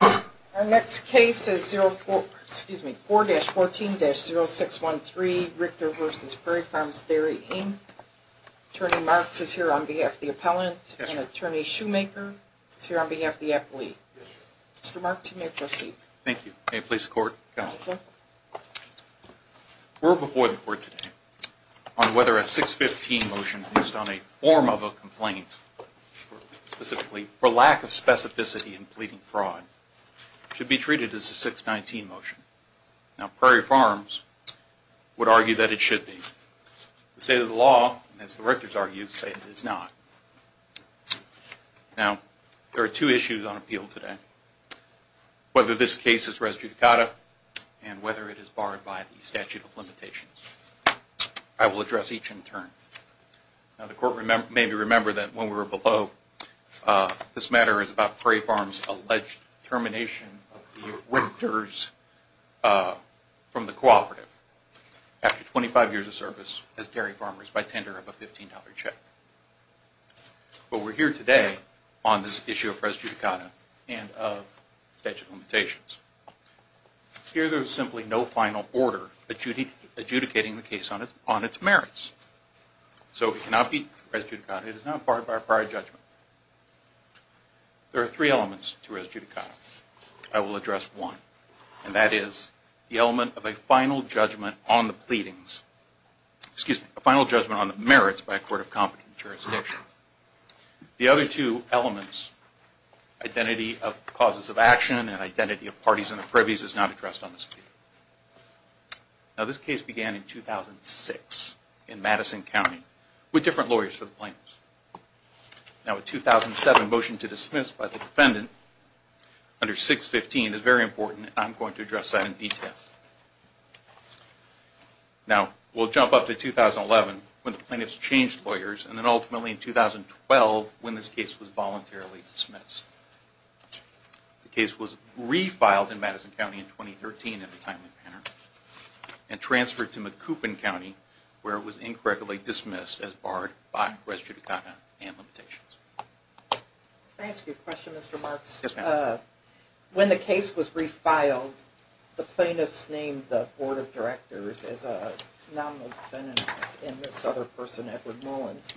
Our next case is 4-14-0613, Richter v. Prairie Farms Dairy, Inc. Attorney Marks is here on behalf of the appellant, and Attorney Shoemaker is here on behalf of the appellee. Mr. Marks, you may proceed. Thank you. May it please the Court, Counsel. We're before the Court today on whether a 6-15 motion, based on a form of a complaint, specifically for lack of specificity in pleading fraud, should be treated as a 6-19 motion. Now, Prairie Farms would argue that it should be. The state of the law, as the Richters argue, say it is not. Now, there are two issues on appeal today. Whether this case is res judicata and whether it is barred by the statute of limitations. I will address each in turn. Now, the Court may remember that when we were below, this matter is about Prairie Farms' alleged termination of the Richters from the cooperative after 25 years of service as dairy farmers by tender of a $15 check. But we're here today on this issue of res judicata and of statute of limitations. Here there is simply no final order adjudicating the case on its merits. So it cannot be res judicata. It is not barred by a prior judgment. There are three elements to res judicata. I will address one, and that is the element of a final judgment on the pleadings. A final judgment on the merits by a court of competent jurisdiction. The other two elements, identity of causes of action and identity of parties and privies, is not addressed on this appeal. Now, this case began in 2006 in Madison County with different lawyers for the plaintiffs. Now, a 2007 motion to dismiss by the defendant under 615 is very important, and I'm going to address that in detail. Now, we'll jump up to 2011 when the plaintiffs changed lawyers, and then ultimately in 2012 when this case was voluntarily dismissed. The case was refiled in Madison County in 2013 in a timely manner and transferred to Macoupin County where it was incorrectly dismissed as barred by res judicata and limitations. Can I ask you a question, Mr. Marks? Yes, ma'am. When the case was refiled, the plaintiffs named the Board of Directors as a nominal defendant and this other person, Edward Mullins.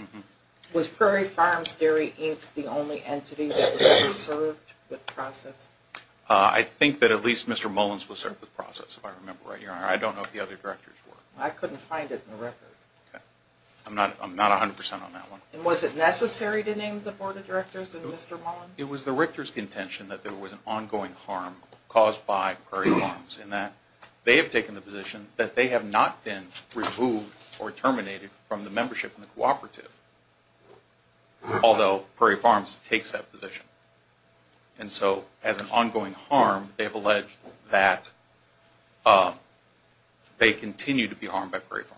Was Prairie Farms Dairy Inc. the only entity that was served with process? I think that at least Mr. Mullins was served with process, if I remember right. I don't know if the other directors were. I couldn't find it in the record. I'm not 100 percent on that one. Was it necessary to name the Board of Directors and Mr. Mullins? It was the Richter's contention that there was an ongoing harm caused by Prairie Farms in that they have taken the position that they have not been removed or terminated from the membership in the cooperative, although Prairie Farms takes that position. And so as an ongoing harm, they have alleged that they continue to be harmed by Prairie Farms.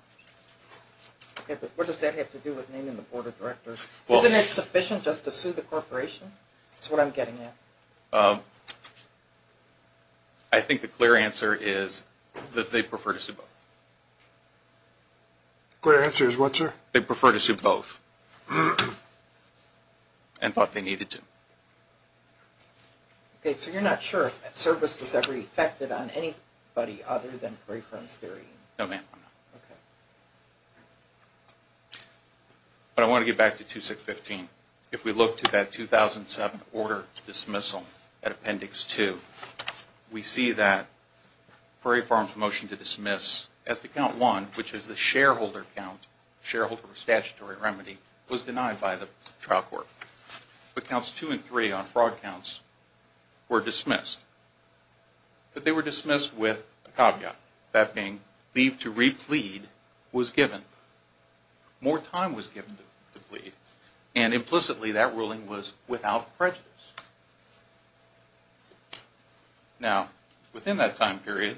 Okay, but what does that have to do with naming the Board of Directors? Isn't it sufficient just to sue the corporation? That's what I'm getting at. I think the clear answer is that they prefer to sue both. The clear answer is what, sir? They prefer to sue both and thought they needed to. Okay, so you're not sure if that service was ever effected on anybody other than Prairie Farms Dairy Inc.? No, ma'am. Okay. But I want to get back to 2615. If we look to that 2007 order dismissal at Appendix 2, we see that Prairie Farms' motion to dismiss as to Count 1, which is the shareholder count, shareholder statutory remedy, was denied by the trial court. But Counts 2 and 3 on fraud counts were dismissed, but they were dismissed with a caveat, that being leave to replead was given. More time was given to replead, and implicitly that ruling was without prejudice. Now, within that time period,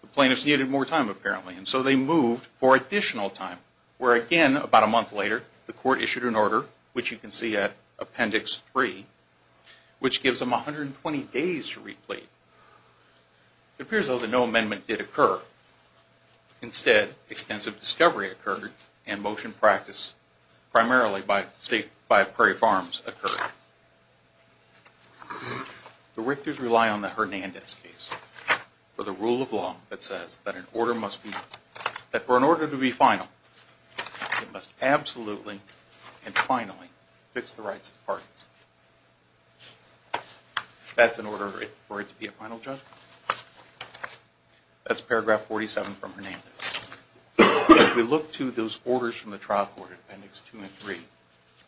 the plaintiffs needed more time apparently, and so they moved for additional time, where again, about a month later, the court issued an order, which you can see at Appendix 3, which gives them 120 days to replead. It appears, though, that no amendment did occur. Instead, extensive discovery occurred, and motion practice primarily by Prairie Farms occurred. The Richters rely on the Hernandez case for the rule of law that says that for an order to be final, it must absolutely and finally fix the rights of the parties. That's an order for it to be a final judgment. That's paragraph 47 from Hernandez. If we look to those orders from the trial court, Appendix 2 and 3,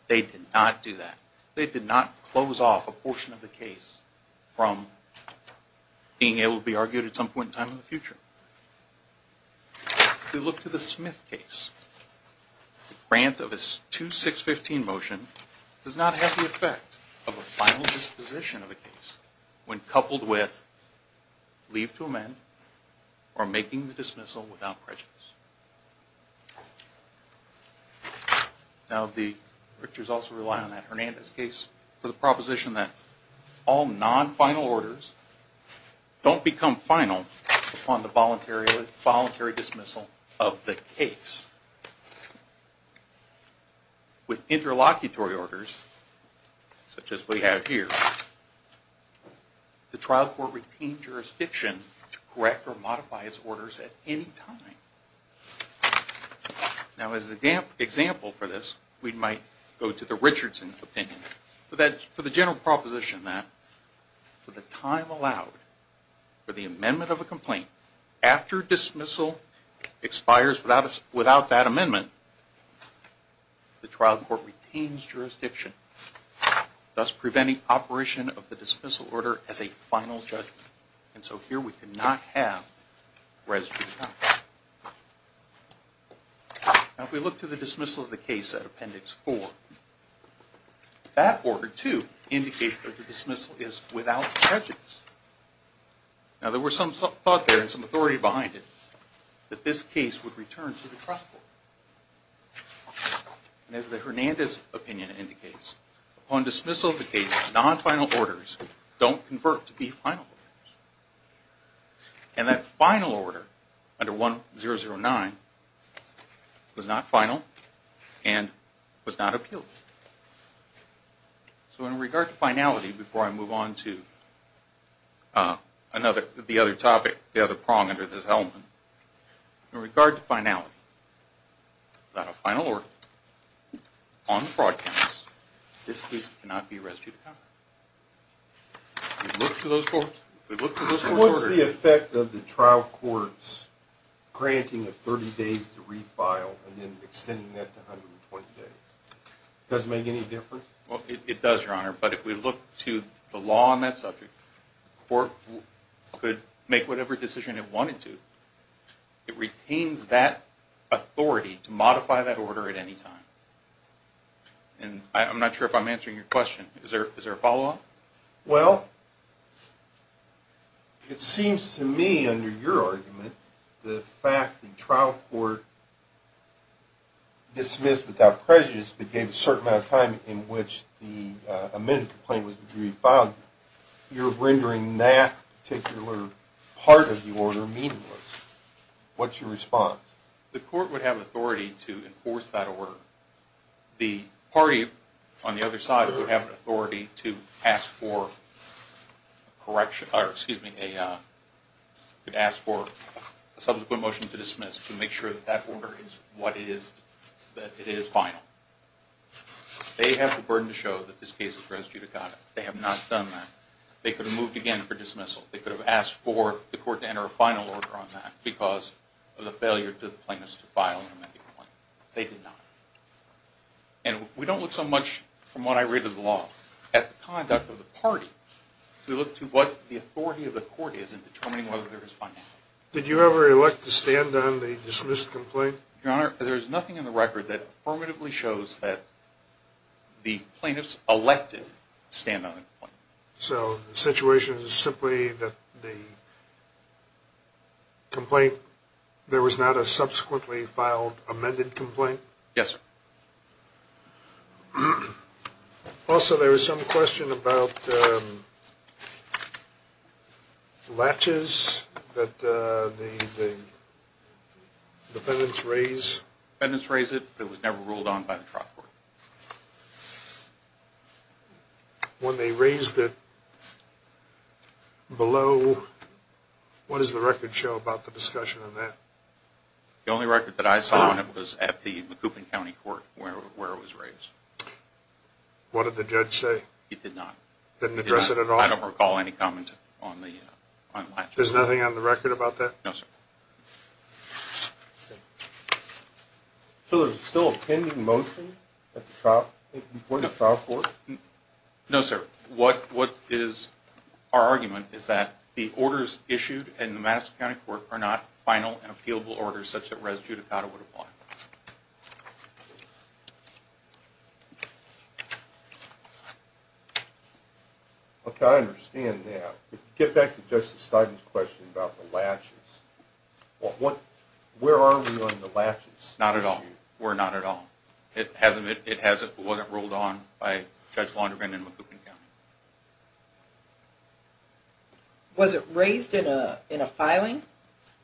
they did not do that. They did not close off a portion of the case from being able to be argued at some point in time in the future. If we look to the Smith case, the grant of a 2-6-15 motion does not have the effect of a final disposition of a case when coupled with leave to amend or making the dismissal without prejudice. Now, the Richters also rely on that Hernandez case for the proposition that all non-final orders don't become final upon the voluntary dismissal of the case. With interlocutory orders, such as we have here, the trial court retained jurisdiction to correct or modify its orders at any time. Now, as an example for this, we might go to the Richardson opinion. For the general proposition that, for the time allowed for the amendment of a complaint, after dismissal expires without that amendment, the trial court retains jurisdiction, thus preventing operation of the dismissal order as a final judgment. And so here we do not have residue time. Now, if we look to the dismissal of the case at Appendix 4, that order, too, indicates that the dismissal is without prejudice. Now, there was some thought there and some authority behind it that this case would return to the trial court. And as the Hernandez opinion indicates, upon dismissal of the case, non-final orders don't convert to be final orders. And that final order, under 1009, was not final and was not appealed. So in regard to finality, before I move on to the other topic, the other prong under this element, in regard to finality, without a final order on the fraud counts, this case cannot be residue to cover. We look to those four orders. What's the effect of the trial court's granting of 30 days to refile and then extending that to 120 days? Does it make any difference? Well, it does, Your Honor, but if we look to the law on that subject, the court could make whatever decision it wanted to. It retains that authority to modify that order at any time. And I'm not sure if I'm answering your question. Is there a follow-up? Well, it seems to me, under your argument, the fact the trial court dismissed without prejudice but gave a certain amount of time in which the amended complaint was to be refiled, you're rendering that particular part of the order meaningless. What's your response? The court would have authority to enforce that order. The party on the other side would have authority to ask for a subsequent motion to dismiss to make sure that that order is what it is, that it is final. They have the burden to show that this case is residue to cover. They have not done that. They could have moved again for dismissal. They could have asked for the court to enter a final order on that because of the failure for the plaintiffs to file an amended complaint. They did not. And we don't look so much, from what I read of the law, at the conduct of the party. We look to what the authority of the court is in determining whether there is finality. Did you ever elect to stand on the dismissed complaint? Your Honor, there is nothing in the record that affirmatively shows that the plaintiffs elected to stand on the complaint. So the situation is simply that the complaint, there was not a subsequently filed amended complaint? Yes, sir. Also, there was some question about latches that the defendants raised. The defendants raised it, but it was never ruled on by the trial court. When they raised it below, what does the record show about the discussion on that? The only record that I saw on it was at the Macoupin County Court where it was raised. What did the judge say? He did not. Didn't address it at all? I don't recall any comment on the latches. There's nothing on the record about that? No, sir. So there's still a pending motion at the point of the trial court? No, sir. What is our argument is that the orders issued in the Madison County Court are not final and appealable orders such that res judicata would apply. Okay, I understand that. To get back to Justice Stein's question about the latches, where are we on the latches issue? Not at all. We're not at all. It wasn't ruled on by Judge Laundervin in Macoupin County. Was it raised in a filing?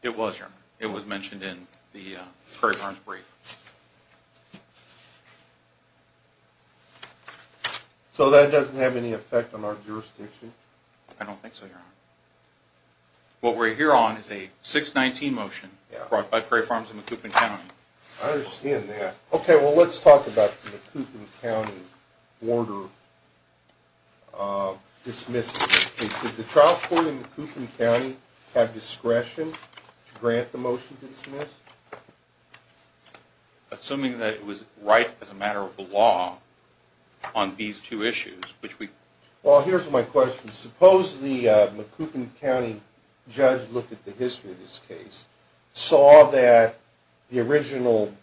It was, Your Honor. It was mentioned in the Curry Farms brief. So that doesn't have any effect on our jurisdiction? I don't think so, Your Honor. What we're here on is a 619 motion brought by Curry Farms in Macoupin County. I understand that. Okay, well let's talk about the Macoupin County order dismissal. Did the trial court in Macoupin County have discretion to grant the motion to dismiss? Assuming that it was right as a matter of the law on these two issues. Well, here's my question. Suppose the Macoupin County judge looked at the history of this case, saw that the original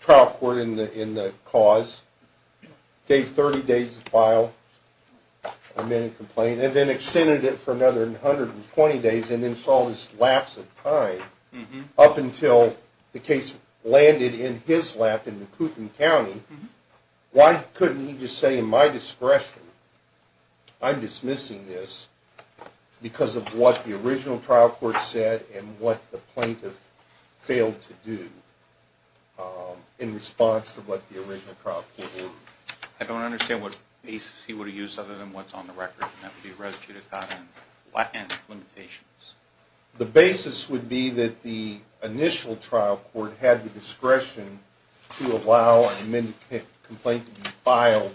trial court in the cause gave 30 days to file a minute complaint, and then extended it for another 120 days and then saw this lapse of time up until the case landed in his lap in Macoupin County. Why couldn't he just say, in my discretion, I'm dismissing this because of what the original trial court said and what the plaintiff failed to do in response to what the original trial court ordered? I don't understand what basis he would have used other than what's on the record, and that would be res judicata and limitations. The basis would be that the initial trial court had the discretion to allow a minute complaint to be filed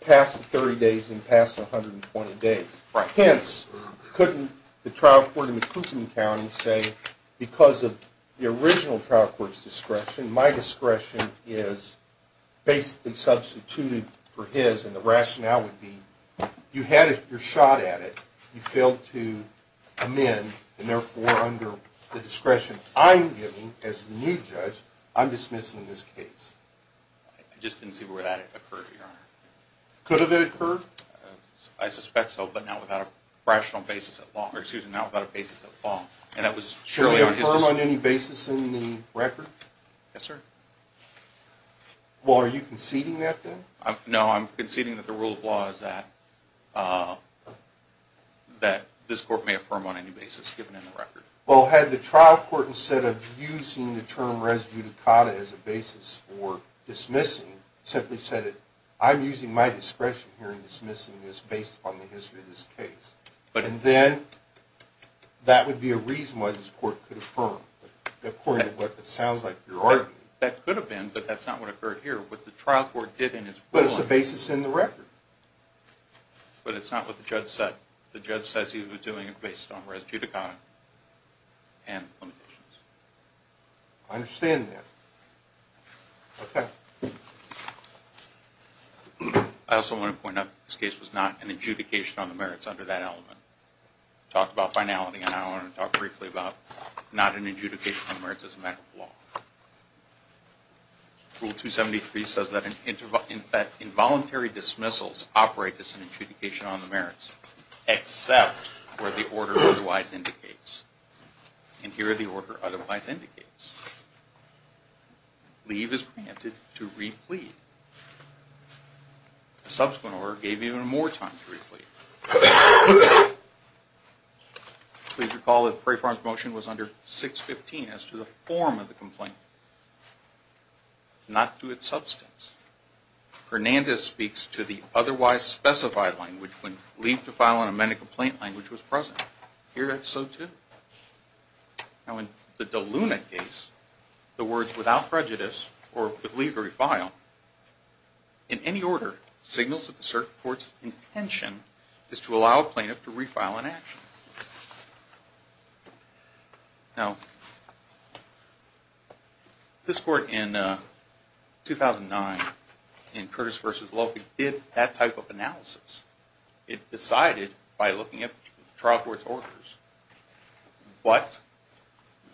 past the 30 days and past the 120 days. Hence, couldn't the trial court in Macoupin County say, because of the original trial court's discretion, my discretion is basically substituted for his, and the rationale would be you had your shot at it. You failed to amend, and therefore, under the discretion I'm giving as the new judge, I'm dismissing this case. I just didn't see where that occurred, Your Honor. Could have it occurred? I suspect so, but not without a rational basis at law, or excuse me, not without a basis at law, and that was surely on his decision. Can you affirm on any basis in the record? Yes, sir. Well, are you conceding that then? No, I'm conceding that the rule of law is that this court may affirm on any basis given in the record. Well, had the trial court, instead of using the term res judicata as a basis for dismissing, simply said, I'm using my discretion here in dismissing this based upon the history of this case, and then that would be a reason why this court could affirm, according to what it sounds like you're arguing. That could have been, but that's not what occurred here. What the trial court did in its ruling But it's a basis in the record. But it's not what the judge said. The judge says he was doing it based on res judicata and limitations. I understand that. Okay. I also want to point out that this case was not an adjudication on the merits under that element. We talked about finality, and I want to talk briefly about not an adjudication on merits as a matter of law. Rule 273 says that involuntary dismissals operate as an adjudication on the merits, except where the order otherwise indicates. And here the order otherwise indicates. Leave is granted to replete. Please recall that Prefarm's motion was under 615 as to the form of the complaint, not to its substance. Hernandez speaks to the otherwise specified language when leave to file an amended complaint language was present. Here it's so too. Now in the De Luna case, the words without prejudice or with leave to refile, in any order signals that the cert court's intention is to allow a plaintiff to refile an action. This court in 2009, in Curtis v. Loewy, did that type of analysis. It decided by looking at the trial court's orders what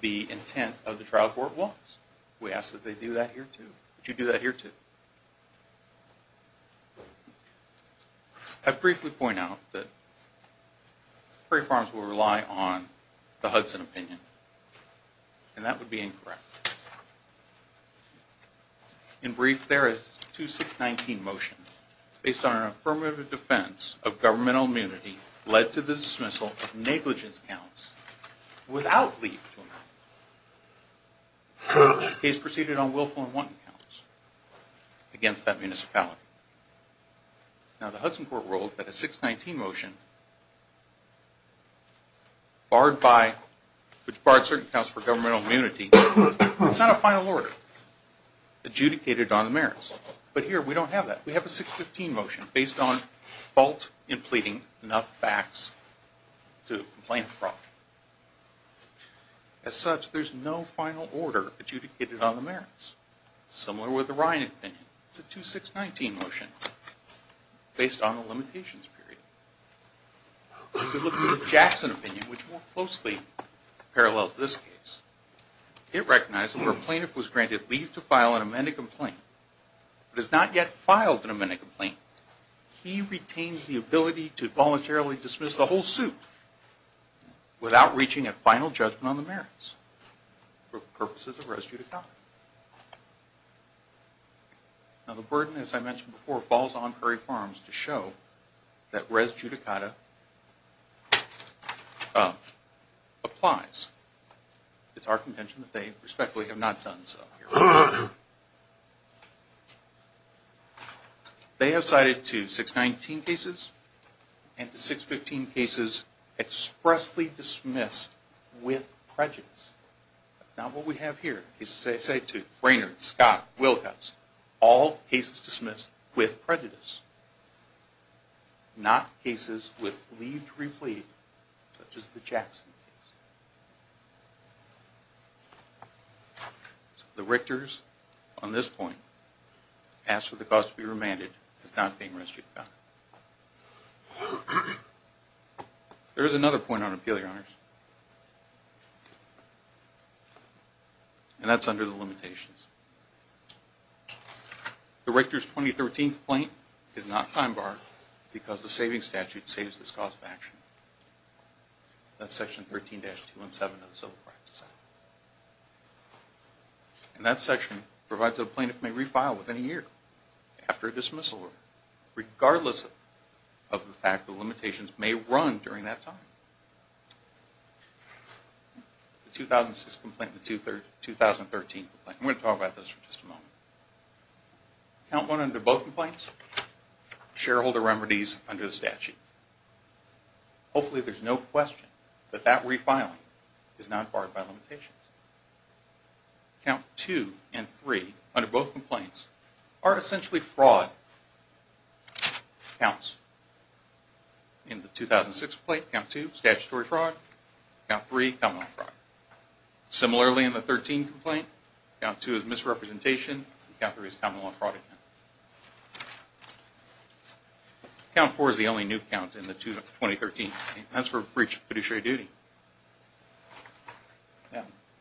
the intent of the trial court was. We ask that they do that here too. Would you do that here too? I'd briefly point out that Prefarms will rely on the Hudson opinion, and that would be incorrect. In brief, there is 2619 motion, based on an affirmative defense of governmental immunity led to the dismissal of negligence counts without leave to amend. The case proceeded on willful and wanton counts against that municipality. Now the Hudson court ruled that a 619 motion, which barred certain counts for governmental immunity, is not a final order adjudicated on the merits. But here we don't have that. We have a 615 motion, based on fault in pleading enough facts to complain of fraud. As such, there's no final order adjudicated on the merits. Similar with the Ryan opinion. It's a 2619 motion, based on a limitations period. If we look at the Jackson opinion, which more closely parallels this case, it recognized that where a plaintiff was granted leave to file an amended complaint, but has not yet filed an amended complaint, he retains the ability to voluntarily dismiss the whole suit without reaching a final judgment on the merits for purposes of res judicata. Now the burden, as I mentioned before, falls on Curry Farms to show that res judicata applies. It's our contention that they respectfully have not done so. They have cited two 619 cases and the 615 cases expressly dismissed with prejudice. That's not what we have here. Cases I cited too. Brainerd, Scott, Wilcox. All cases dismissed with prejudice. Not cases with leave to replead, such as the Jackson case. The Richter's, on this point, asks for the cause to be remanded as not being res judicata. There is another point on appeal, Your Honors, and that's under the limitations. The Richter's 2013 complaint is not time barred because the saving statute saves this cause of action. That's section 13-217. And that section provides that a plaintiff may refile within a year after a dismissal order, regardless of the fact that the limitations may run during that time. The 2006 complaint and the 2013 complaint. I'm going to talk about those for just a moment. Account one under both complaints, shareholder remedies under the statute. Hopefully there's no question that that refiling is not barred by limitations. Account two and three under both complaints are essentially fraud accounts. In the 2006 complaint, account two, statutory fraud. Account three, common law fraud. Similarly in the 2013 complaint, account two is misrepresentation. Account three is common law fraud again. Account four is the only new account in the 2013 complaint. That's for breach of fiduciary duty.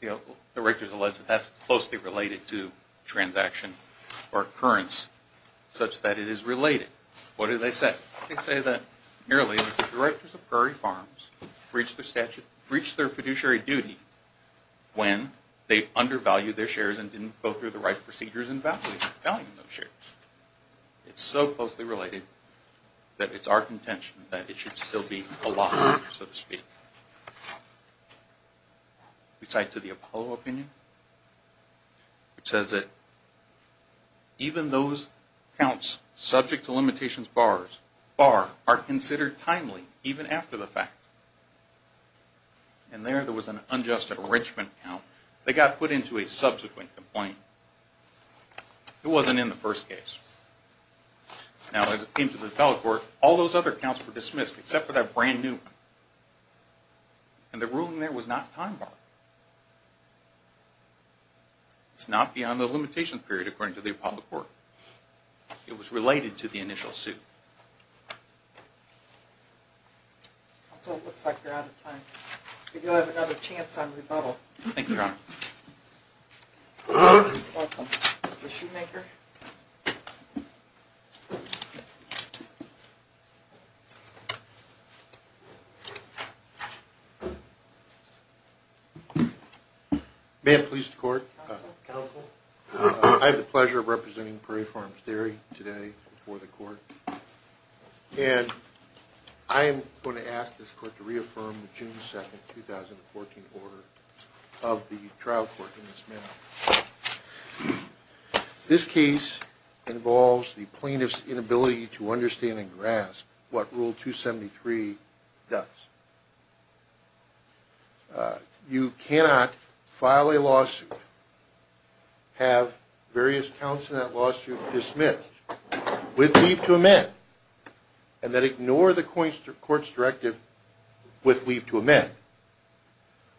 The Richter's alleged that that's closely related to transaction or occurrence such that it is related. What do they say? They say that merely the directors of Prairie Farms breached their statute, breached their fiduciary duty when they undervalued their shares and didn't go through the right procedures in valuing those shares. It's so closely related that it's our contention that it should still be a law, so to speak. We cite to the Apollo opinion. It says that even those accounts subject to limitations barred are considered timely even after the fact. And there, there was an unjust enrichment account. They got put into a subsequent complaint. It wasn't in the first case. Now as it came to the Apollo court, all those other accounts were dismissed except for that brand new one. And the ruling there was not time barred. It's not beyond the limitation period according to the Apollo court. It was related to the initial suit. Counsel, it looks like you're out of time. Thank you, Your Honor. Mr. Shoemaker. May it please the court. Counsel. I have the pleasure of representing Prairie Farms Dairy today before the court. And I am going to ask this court to reaffirm the June 2nd, 2014 order of the trial court in this manner. This case involves the plaintiff's inability to understand and grasp what Rule 273 does. You cannot file a lawsuit, have various counts in that lawsuit dismissed with leave to amend, and then ignore the court's directive with leave to amend.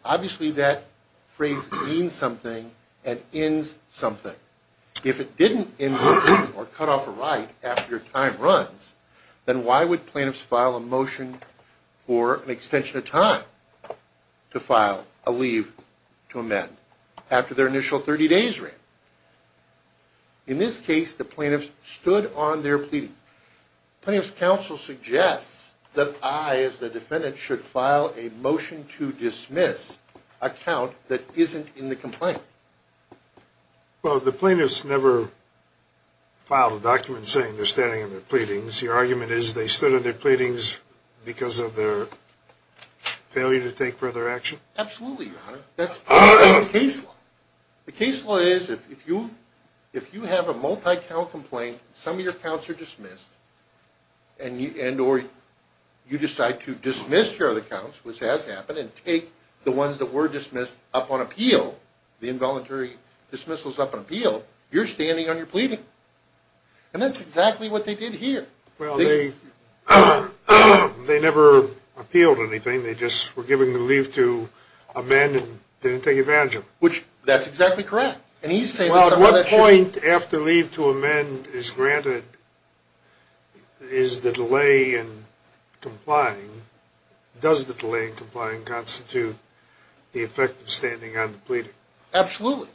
Obviously that phrase means something and ends something. If it didn't end something or cut off a right after your time runs, then why would plaintiffs file a motion for an extension of time to file a leave to amend after their initial 30 days ran? In this case, the plaintiffs stood on their pleadings. Plaintiff's counsel suggests that I, as the defendant, should file a motion to dismiss a count that isn't in the complaint. Well, the plaintiffs never filed a document saying they're standing on their pleadings. Your argument is they stood on their pleadings because of their failure to take further action? Absolutely, Your Honor. That's the case law. The case law is if you have a multi-count complaint, some of your counts are dismissed, and you decide to dismiss your other counts, which has happened, and take the ones that were dismissed up on appeal, the involuntary dismissals up on appeal, you're standing on your pleading. And that's exactly what they did here. Well, they never appealed anything. They just were given leave to amend and didn't take advantage of it. Which, that's exactly correct. Well, at what point after leave to amend is granted is the delay in complying? Does the delay in complying constitute the effect of standing on the pleading? Absolutely.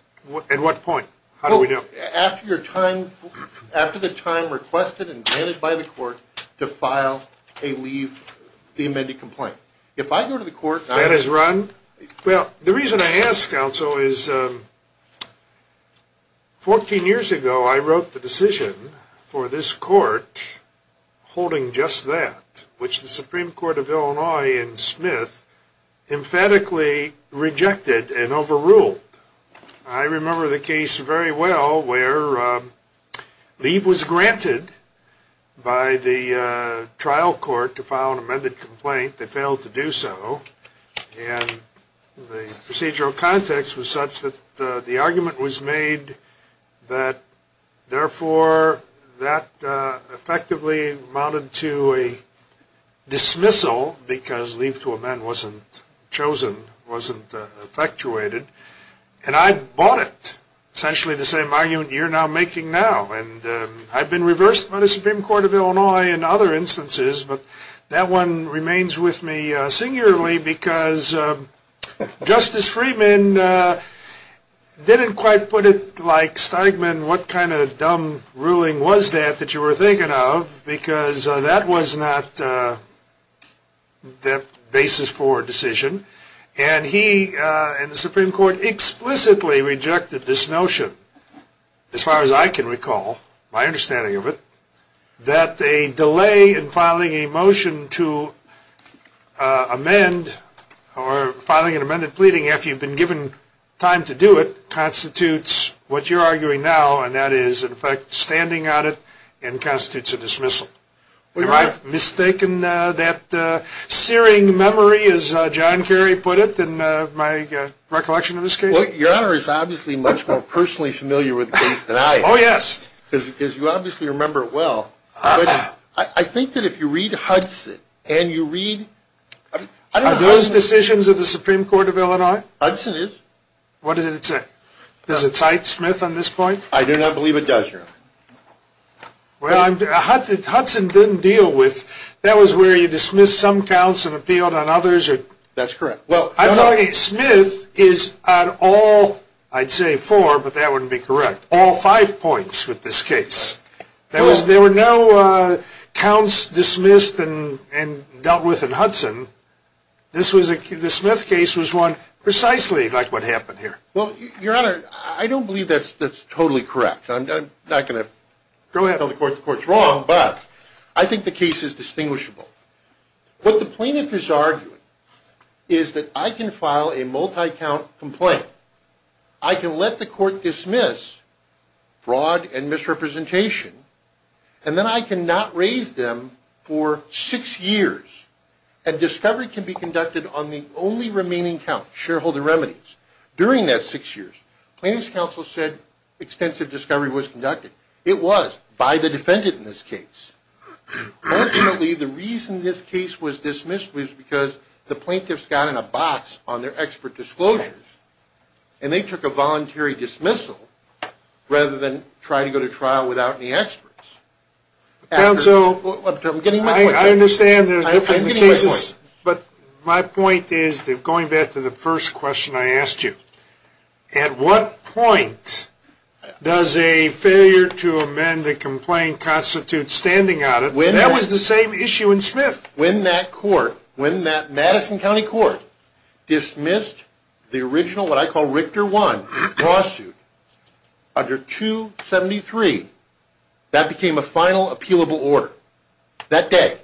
At what point? How do we know? After the time requested and granted by the court to file a leave to amend a complaint. If I go to the court and I... That is run? Well, the reason I ask, counsel, is 14 years ago I wrote the decision for this court holding just that, which the Supreme Court of Illinois in Smith emphatically rejected and overruled. I remember the case very well where leave was granted by the trial court to file an amended complaint. They failed to do so. And the procedural context was such that the argument was made that, therefore, that effectively amounted to a dismissal because leave to amend wasn't chosen, wasn't effectuated. And I bought it, essentially the same argument you're now making now. And I've been reversed by the Supreme Court of Illinois in other instances, but that one remains with me singularly because Justice Freedman didn't quite put it like Steigman, what kind of dumb ruling was that that you were thinking of because that was not the basis for a decision. And he and the Supreme Court explicitly rejected this notion, as far as I can recall, my understanding of it, that a delay in filing a motion to amend or filing an amended pleading, after you've been given time to do it, constitutes what you're arguing now, and that is, in effect, standing on it and constitutes a dismissal. Am I mistaken that searing memory, as John Kerry put it, in my recollection of this case? Well, Your Honor is obviously much more personally familiar with the case than I am. Oh, yes. Because you obviously remember it well. But I think that if you read Hudson and you read – Are those decisions of the Supreme Court of Illinois? Hudson is. What does it say? Does it cite Smith on this point? I do not believe it does, Your Honor. Well, Hudson didn't deal with – that was where you dismissed some counts and appealed on others? That's correct. Smith is on all – I'd say four, but that wouldn't be correct – all five points with this case. There were no counts dismissed and dealt with in Hudson. The Smith case was one precisely like what happened here. Well, Your Honor, I don't believe that's totally correct. I'm not going to tell the court the court's wrong, but I think the case is distinguishable. What the plaintiff is arguing is that I can file a multi-count complaint, I can let the court dismiss fraud and misrepresentation, and then I cannot raise them for six years, and discovery can be conducted on the only remaining count, shareholder remedies. During that six years, plaintiff's counsel said extensive discovery was conducted. It was by the defendant in this case. Fortunately, the reason this case was dismissed was because the plaintiff's got in a box on their expert disclosures, and they took a voluntary dismissal rather than try to go to trial without any experts. Counsel – I'm getting my point. I understand. I'm getting my point. But my point is, going back to the first question I asked you, at what point does a failure to amend the complaint constitute standing on it? That was the same issue in Smith. When that Madison County Court dismissed the original, what I call Richter 1, lawsuit under 273, that became a final appealable order that day.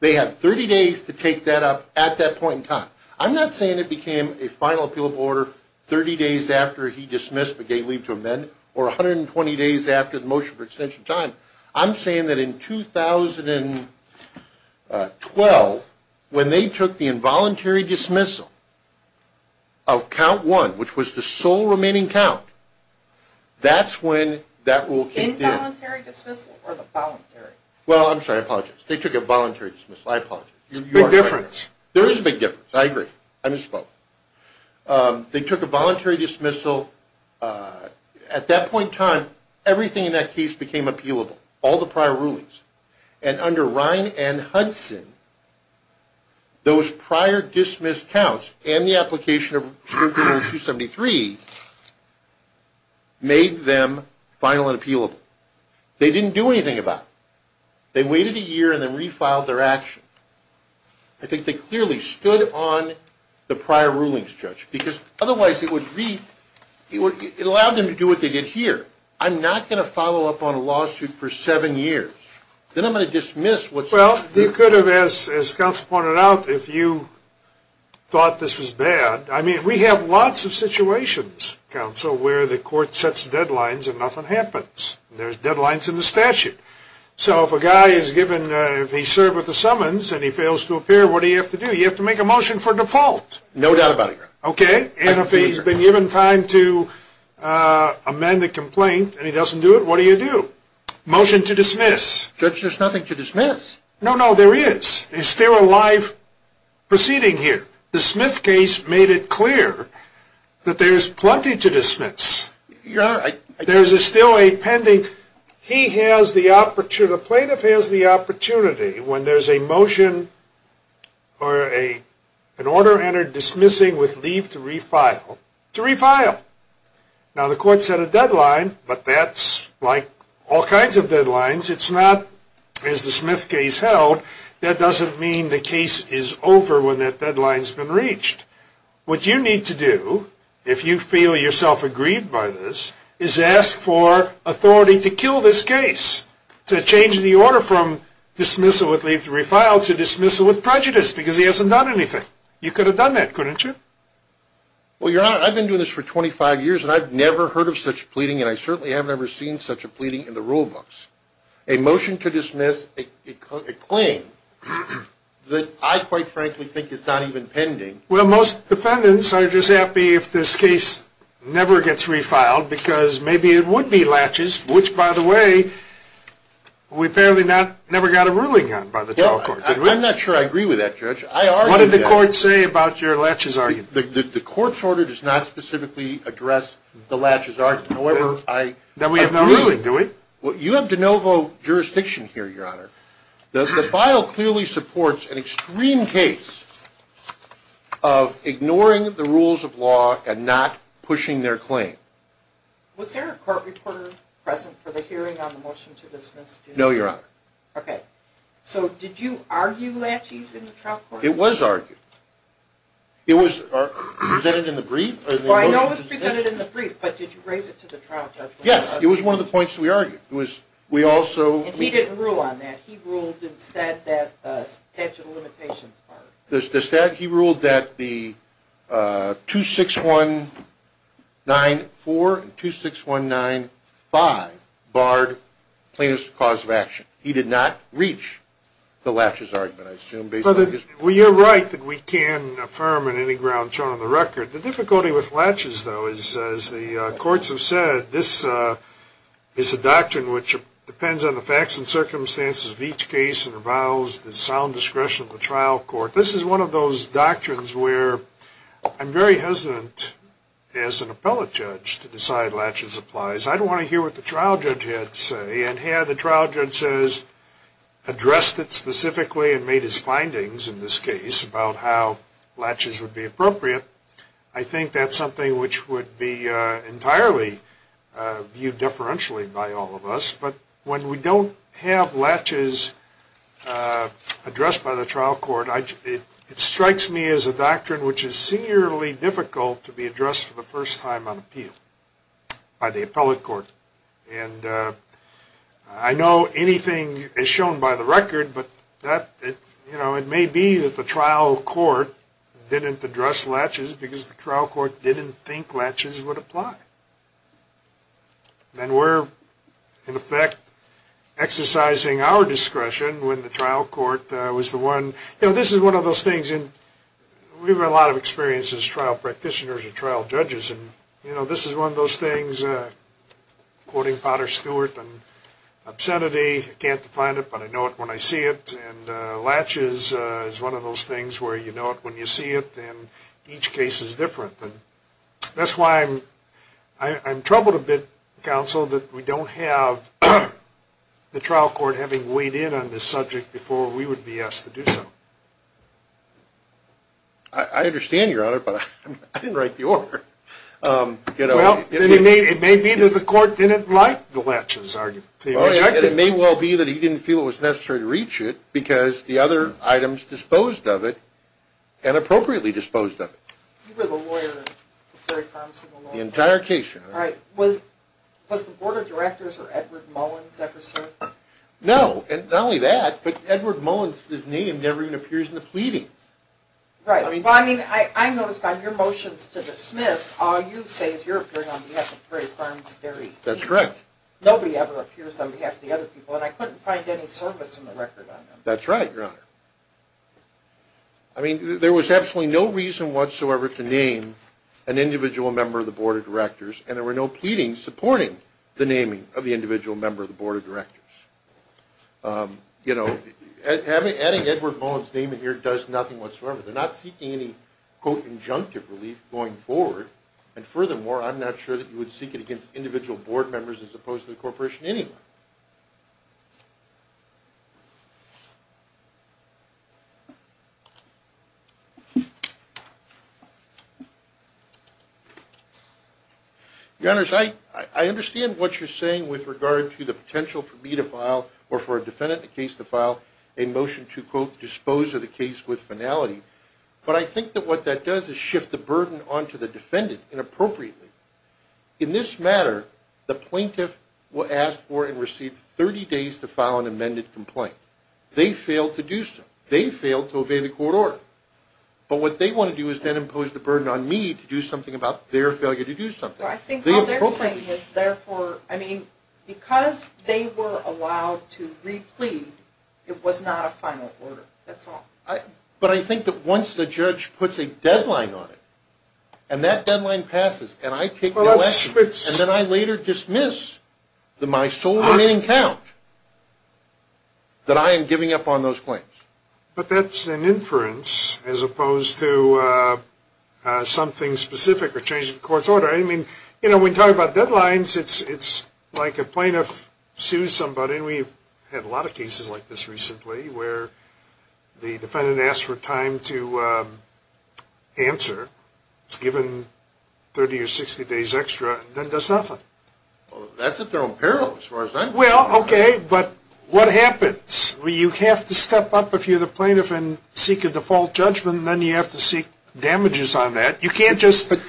They had 30 days to take that up at that point in time. I'm not saying it became a final appealable order 30 days after he dismissed, but gave leave to amend, or 120 days after the motion for extension of time. I'm saying that in 2012, when they took the involuntary dismissal of count 1, which was the sole remaining count, that's when that rule came through. Involuntary dismissal or the voluntary? Well, I'm sorry. I apologize. They took a voluntary dismissal. I apologize. It's a big difference. There is a big difference. I agree. I misspoke. They took a voluntary dismissal. At that point in time, everything in that case became appealable, all the prior rulings. And under Ryan and Hudson, those prior dismissed counts and the application of 273 made them final and appealable. They didn't do anything about it. They waited a year and then refiled their action. I think they clearly stood on the prior rulings, Judge, because otherwise it would allow them to do what they did here. I'm not going to follow up on a lawsuit for seven years. Then I'm going to dismiss. Well, you could have, as counsel pointed out, if you thought this was bad. I mean, we have lots of situations, counsel, where the court sets deadlines and nothing happens. There's deadlines in the statute. So if a guy is given, if he's served with a summons and he fails to appear, what do you have to do? You have to make a motion for default. No doubt about it, Your Honor. Okay. And if he's been given time to amend a complaint and he doesn't do it, what do you do? Motion to dismiss. Judge, there's nothing to dismiss. No, no, there is. There's still a live proceeding here. The Smith case made it clear that there's plenty to dismiss. Your Honor. There's still a pending. The plaintiff has the opportunity, when there's a motion or an order entered dismissing with leave to refile, to refile. Now, the court set a deadline, but that's like all kinds of deadlines. It's not, as the Smith case held, that doesn't mean the case is over when that deadline's been reached. What you need to do, if you feel yourself aggrieved by this, is ask for authority to kill this case, to change the order from dismissal with leave to refile to dismissal with prejudice, because he hasn't done anything. You could have done that, couldn't you? Well, Your Honor, I've been doing this for 25 years, and I've never heard of such pleading, and I certainly haven't ever seen such a pleading in the rule books. A motion to dismiss a claim that I, quite frankly, think is not even pending. Well, most defendants are just happy if this case never gets refiled, because maybe it would be latches, which, by the way, we apparently never got a ruling on by the trial court. I'm not sure I agree with that, Judge. I argue that. What did the court say about your latches argument? The court's order does not specifically address the latches argument. However, I agree. Then we have no ruling, do we? Well, you have de novo jurisdiction here, Your Honor. The file clearly supports an extreme case of ignoring the rules of law and not pushing their claim. Was there a court reporter present for the hearing on the motion to dismiss? No, Your Honor. Okay. So did you argue latches in the trial court? It was argued. It was presented in the brief. Well, I know it was presented in the brief, but did you raise it to the trial judge? Yes, it was one of the points we argued. And he didn't rule on that. He ruled instead that statute of limitations part of it. He ruled that the 26194 and 26195 barred plaintiff's cause of action. He did not reach the latches argument, I assume, based on his brief. Well, you're right that we can't affirm on any ground shown on the record. The difficulty with latches, though, is, as the courts have said, this is a doctrine which depends on the facts and circumstances of each case and avows the sound discretion of the trial court. This is one of those doctrines where I'm very hesitant as an appellate judge to decide latches applies. I don't want to hear what the trial judge had to say. And had the trial judge addressed it specifically and made his findings, in this case, about how latches would be appropriate, I think that's something which would be entirely viewed differentially by all of us. But when we don't have latches addressed by the trial court, it strikes me as a doctrine which is singularly difficult to be addressed for the first time on appeal by the appellate court. And I know anything is shown by the record, but it may be that the trial court didn't address latches because the trial court didn't think latches would apply. And we're, in effect, exercising our discretion when the trial court was the one. This is one of those things, and we have a lot of experience as trial practitioners and trial judges, and this is one of those things, quoting Potter Stewart, and obscenity, I can't define it, but I know it when I see it. And latches is one of those things where you know it when you see it, and each case is different. And that's why I'm troubled a bit, counsel, that we don't have the trial court having weighed in on this subject before we would be asked to do so. I understand, Your Honor, but I didn't write the order. Well, it may be that the court didn't like the latches argument. It may well be that he didn't feel it was necessary to reach it because the other items disposed of it, and appropriately disposed of it. You were the lawyer of Terry Thompson, the lawyer. The entire case, Your Honor. Was the Board of Directors or Edward Mullins ever served? No. Not only that, but Edward Mullins' name never even appears in the pleadings. Right. Well, I mean, I noticed on your motions to dismiss, all you say is you're appearing on behalf of Terry Thompson. That's correct. Nobody ever appears on behalf of the other people, and I couldn't find any service in the record on him. That's right, Your Honor. I mean, there was absolutely no reason whatsoever to name an individual member of the Board of Directors, and there were no pleadings supporting the naming of the individual member of the Board of Directors. You know, adding Edward Mullins' name in here does nothing whatsoever. They're not seeking any, quote, injunctive relief going forward, and furthermore, I'm not sure that you would seek it against individual board members as opposed to the corporation anyway. Your Honors, I understand what you're saying with regard to the potential for me to file or for a defendant in a case to file a motion to, quote, dispose of the case with finality, but I think that what that does is shift the burden onto the defendant inappropriately. In this matter, the plaintiff was asked for and received 30 days to file an amended complaint. They failed to do so. They failed to obey the court order. But what they want to do is then impose the burden on me to do something about their failure to do something. I think what they're saying is, therefore, I mean, because they were allowed to replead, it was not a final order. That's all. But I think that once the judge puts a deadline on it, and that deadline passes, and I take the election, and then I later dismiss my sole remaining count, that I am giving up on those claims. But that's an inference as opposed to something specific or changing the court's order. I mean, you know, when you talk about deadlines, it's like a plaintiff sues somebody, I mean, we've had a lot of cases like this recently where the defendant asks for time to answer, is given 30 or 60 days extra, and then does nothing. Well, that's at their own peril as far as I'm concerned. Well, okay, but what happens? Well, you have to step up if you're the plaintiff and seek a default judgment, and then you have to seek damages on that. You can't just let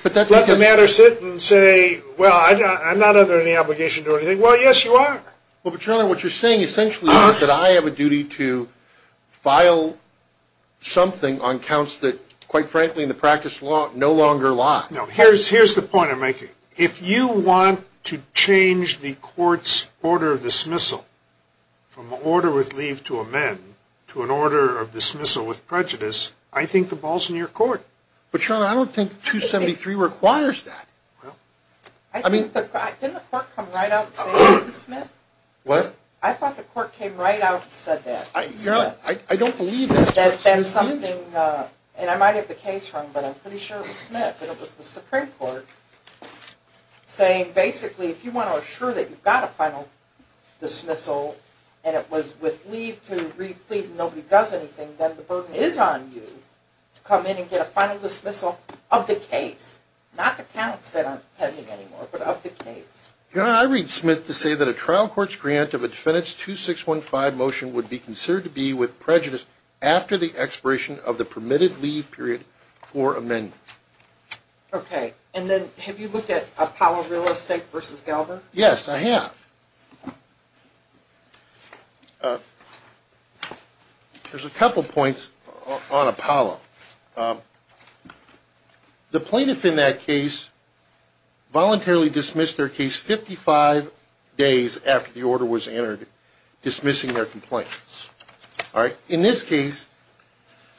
the matter sit and say, well, I'm not under any obligation to do anything. Well, yes, you are. Well, but, Your Honor, what you're saying essentially is that I have a duty to file something on counts that, quite frankly, in the practice law, no longer lie. No, here's the point I'm making. If you want to change the court's order of dismissal from an order with leave to amend to an order of dismissal with prejudice, I think the ball's in your court. But, Your Honor, I don't think 273 requires that. Didn't the court come right out and say that to Smith? What? I thought the court came right out and said that to Smith. Your Honor, I don't believe that. And I might have the case wrong, but I'm pretty sure it was Smith. It was the Supreme Court saying, basically, if you want to assure that you've got a final dismissal, and it was with leave to re-plead and nobody does anything, then the burden is on you to come in and get a final dismissal of the case. Not the counts that aren't pending anymore, but of the case. Your Honor, I read Smith to say that a trial court's grant of a defendant's 2615 motion would be considered to be with prejudice after the expiration of the permitted leave period for amendment. Okay. And then have you looked at Apollo Real Estate v. Galbraith? Yes, I have. There's a couple points on Apollo. The plaintiff in that case voluntarily dismissed their case 55 days after the order was entered dismissing their complaint. In this case,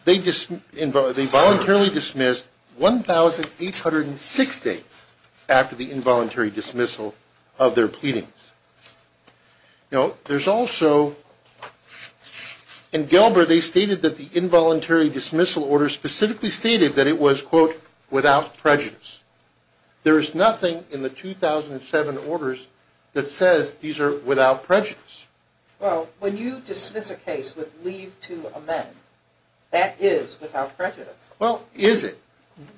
they voluntarily dismissed 1,806 days after the involuntary dismissal of their pleadings. Now, there's also, in Galbraith, they stated that the involuntary dismissal order specifically stated that it was, quote, without prejudice. There is nothing in the 2007 orders that says these are without prejudice. Well, when you dismiss a case with leave to amend, that is without prejudice. Well, is it?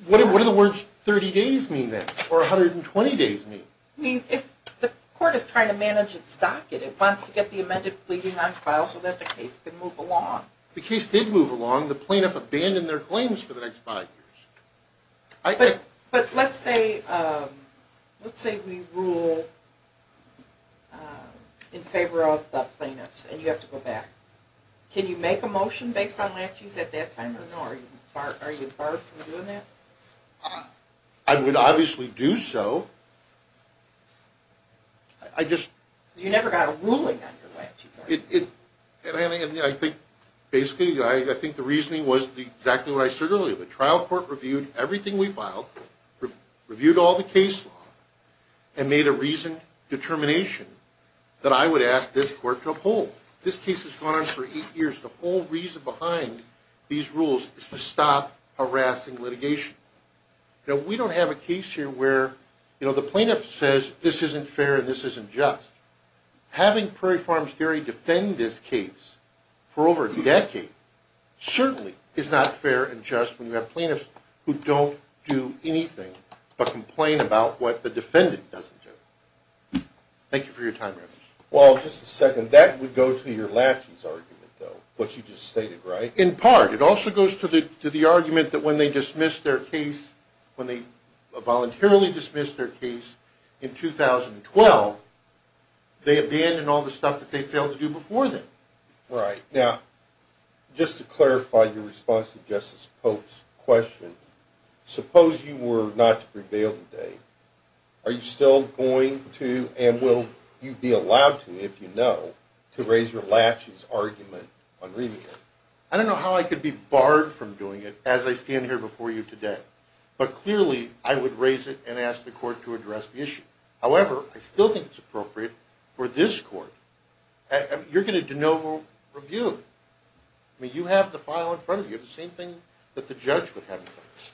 What do the words 30 days mean then, or 120 days mean? The court is trying to manage its docket. It wants to get the amended pleading on file so that the case can move along. The case did move along. The plaintiff abandoned their claims for the next five years. But let's say we rule in favor of the plaintiffs, and you have to go back. Can you make a motion based on laches at that time, or no? Are you barred from doing that? I would obviously do so. I just – You never got a ruling on your way. I think basically, I think the reasoning was exactly what I said earlier. The trial court reviewed everything we filed, reviewed all the case law, and made a reasoned determination that I would ask this court to uphold. This case has gone on for eight years. The whole reason behind these rules is to stop harassing litigation. We don't have a case here where the plaintiff says this isn't fair and this isn't just. Having Prairie Farms Dairy defend this case for over a decade certainly is not fair and just when you have plaintiffs who don't do anything but complain about what the defendant doesn't do. Thank you for your time. Well, just a second. That would go to your laches argument, though, what you just stated, right? In part. It also goes to the argument that when they voluntarily dismissed their case in 2012, they abandoned all the stuff that they failed to do before then. Right. Now, just to clarify your response to Justice Pope's question, suppose you were not to prevail today. Are you still going to and will you be allowed to, if you know, to raise your laches argument on remand? I don't know how I could be barred from doing it as I stand here before you today, but clearly I would raise it and ask the court to address the issue. However, I still think it's appropriate for this court. You're going to de novo review. I mean, you have the file in front of you, the same thing that the judge would have in front of you.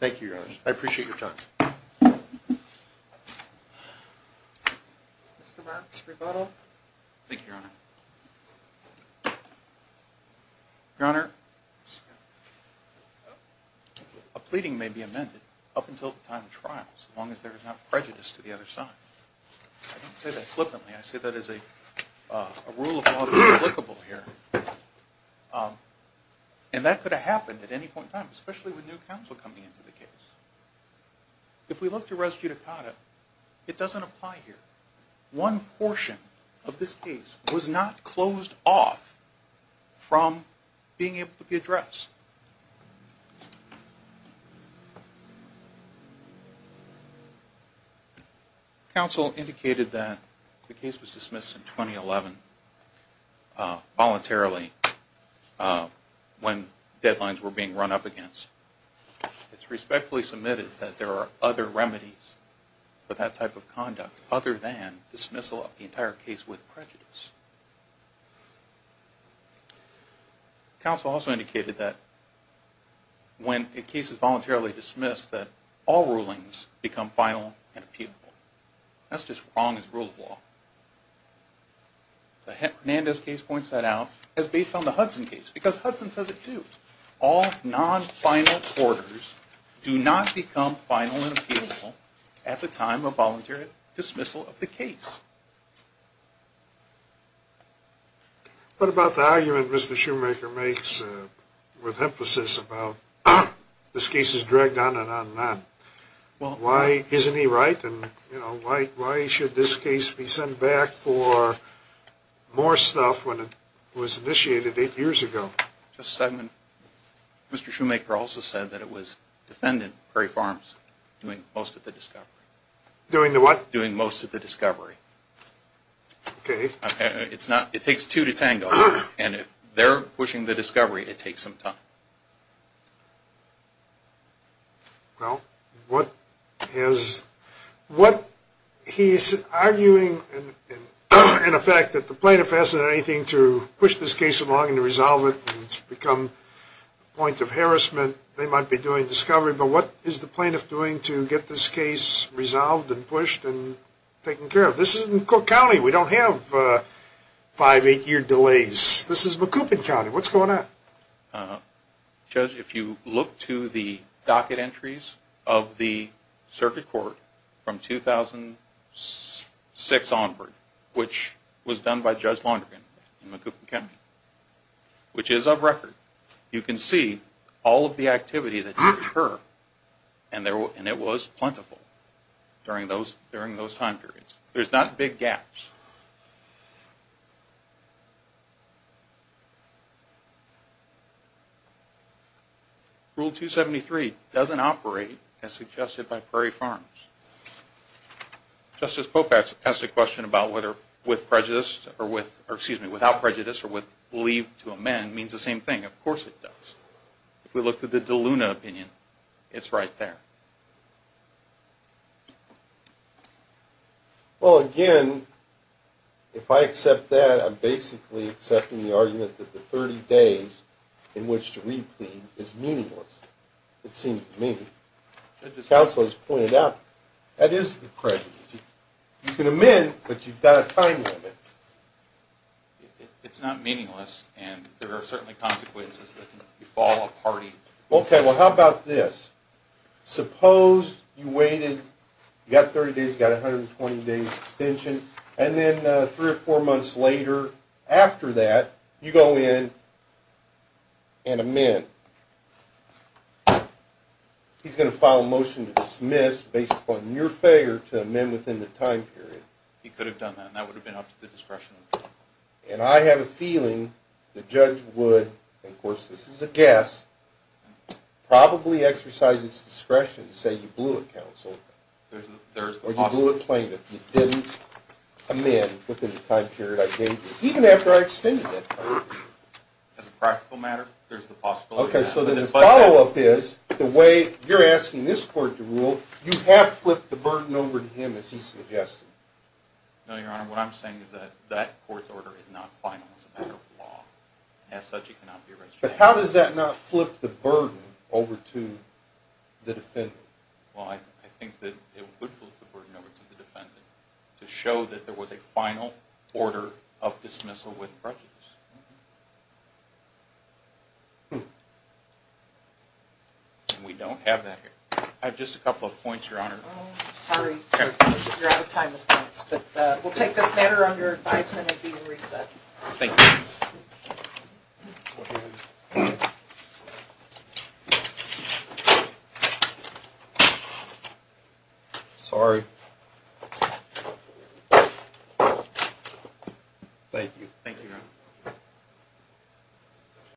Thank you, Your Honor. I appreciate your time. Mr. Marks, rebuttal. Thank you, Your Honor. Your Honor, a pleading may be amended up until the time of trial, so long as there is not prejudice to the other side. I don't say that flippantly. I say that as a rule of law that is applicable here. And that could have happened at any point in time, especially with new counsel coming into the case. If we look to res judicata, it doesn't apply here. One portion of this case was not closed off from being able to be addressed. Counsel indicated that the case was dismissed in 2011 voluntarily when deadlines were being run up against. It's respectfully submitted that there are other remedies for that type of conduct other than dismissal of the entire case with prejudice. Counsel also indicated that when a case is voluntarily dismissed, that all rulings become final and appealable. That's just wrong as a rule of law. The Hernandez case points that out as based on the Hudson case, because Hudson says it, too. All non-final orders do not become final and appealable at the time of voluntary dismissal of the case. What about the argument Mr. Shoemaker makes with emphasis about this case is dragged on and on and on? Isn't he right? Why should this case be sent back for more stuff when it was initiated eight years ago? Mr. Shoemaker also said that it was defendant Perry Farms doing most of the discovery. Doing the what? Doing most of the discovery. Okay. It takes two to tango. And if they're pushing the discovery, it takes some time. Well, what he's arguing, in effect, that the plaintiff hasn't done anything to push this case along and to resolve it and it's become a point of harassment. They might be doing discovery, but what is the plaintiff doing to get this case resolved and pushed and taken care of? This is in Cook County. We don't have five, eight-year delays. This is Macoupin County. What's going on? Judge, if you look to the docket entries of the circuit court from 2006 onward, which was done by Judge Laundergan in Macoupin County, which is of record, you can see all of the activity that occurred, and it was plentiful during those time periods. There's not big gaps. Rule 273 doesn't operate as suggested by Perry Farms. Justice Popax asked a question about whether without prejudice or with leave to amend means the same thing. Of course it does. If we look to the DeLuna opinion, it's right there. Well, again, if I accept that, I'm basically accepting the argument that the 30 days in which to read clean is meaningless. It seems to me. Counsel has pointed out that is the prejudice. You can amend, but you've got a time limit. It's not meaningless, and there are certainly consequences that can befall a party. Okay, well, how about this? Suppose you waited, you got 30 days, you got 120 days extension, and then three or four months later, after that, you go in and amend. He's going to file a motion to dismiss based upon your failure to amend within the time period. He could have done that, and that would have been up to the discretion. And I have a feeling the judge would, and of course this is a guess, probably exercise its discretion to say you blew it, counsel. There's the possibility. Or you blew it plain that you didn't amend within the time period I gave you, even after I extended it. As a practical matter, there's the possibility of that. Okay, so then the follow-up is the way you're asking this court to rule, you have flipped the burden over to him, as he suggested. No, Your Honor. What I'm saying is that that court's order is not final. It's a matter of law. As such, he cannot be arrested. But how does that not flip the burden over to the defendant? Well, I think that it would flip the burden over to the defendant to show that there was a final order of dismissal with prejudice. We don't have that here. I have just a couple of points, Your Honor. Oh, sorry. You're out of time, Ms. Banks. But we'll take this matter under advisement and be in recess. Thank you. Thank you. Thank you, Your Honor.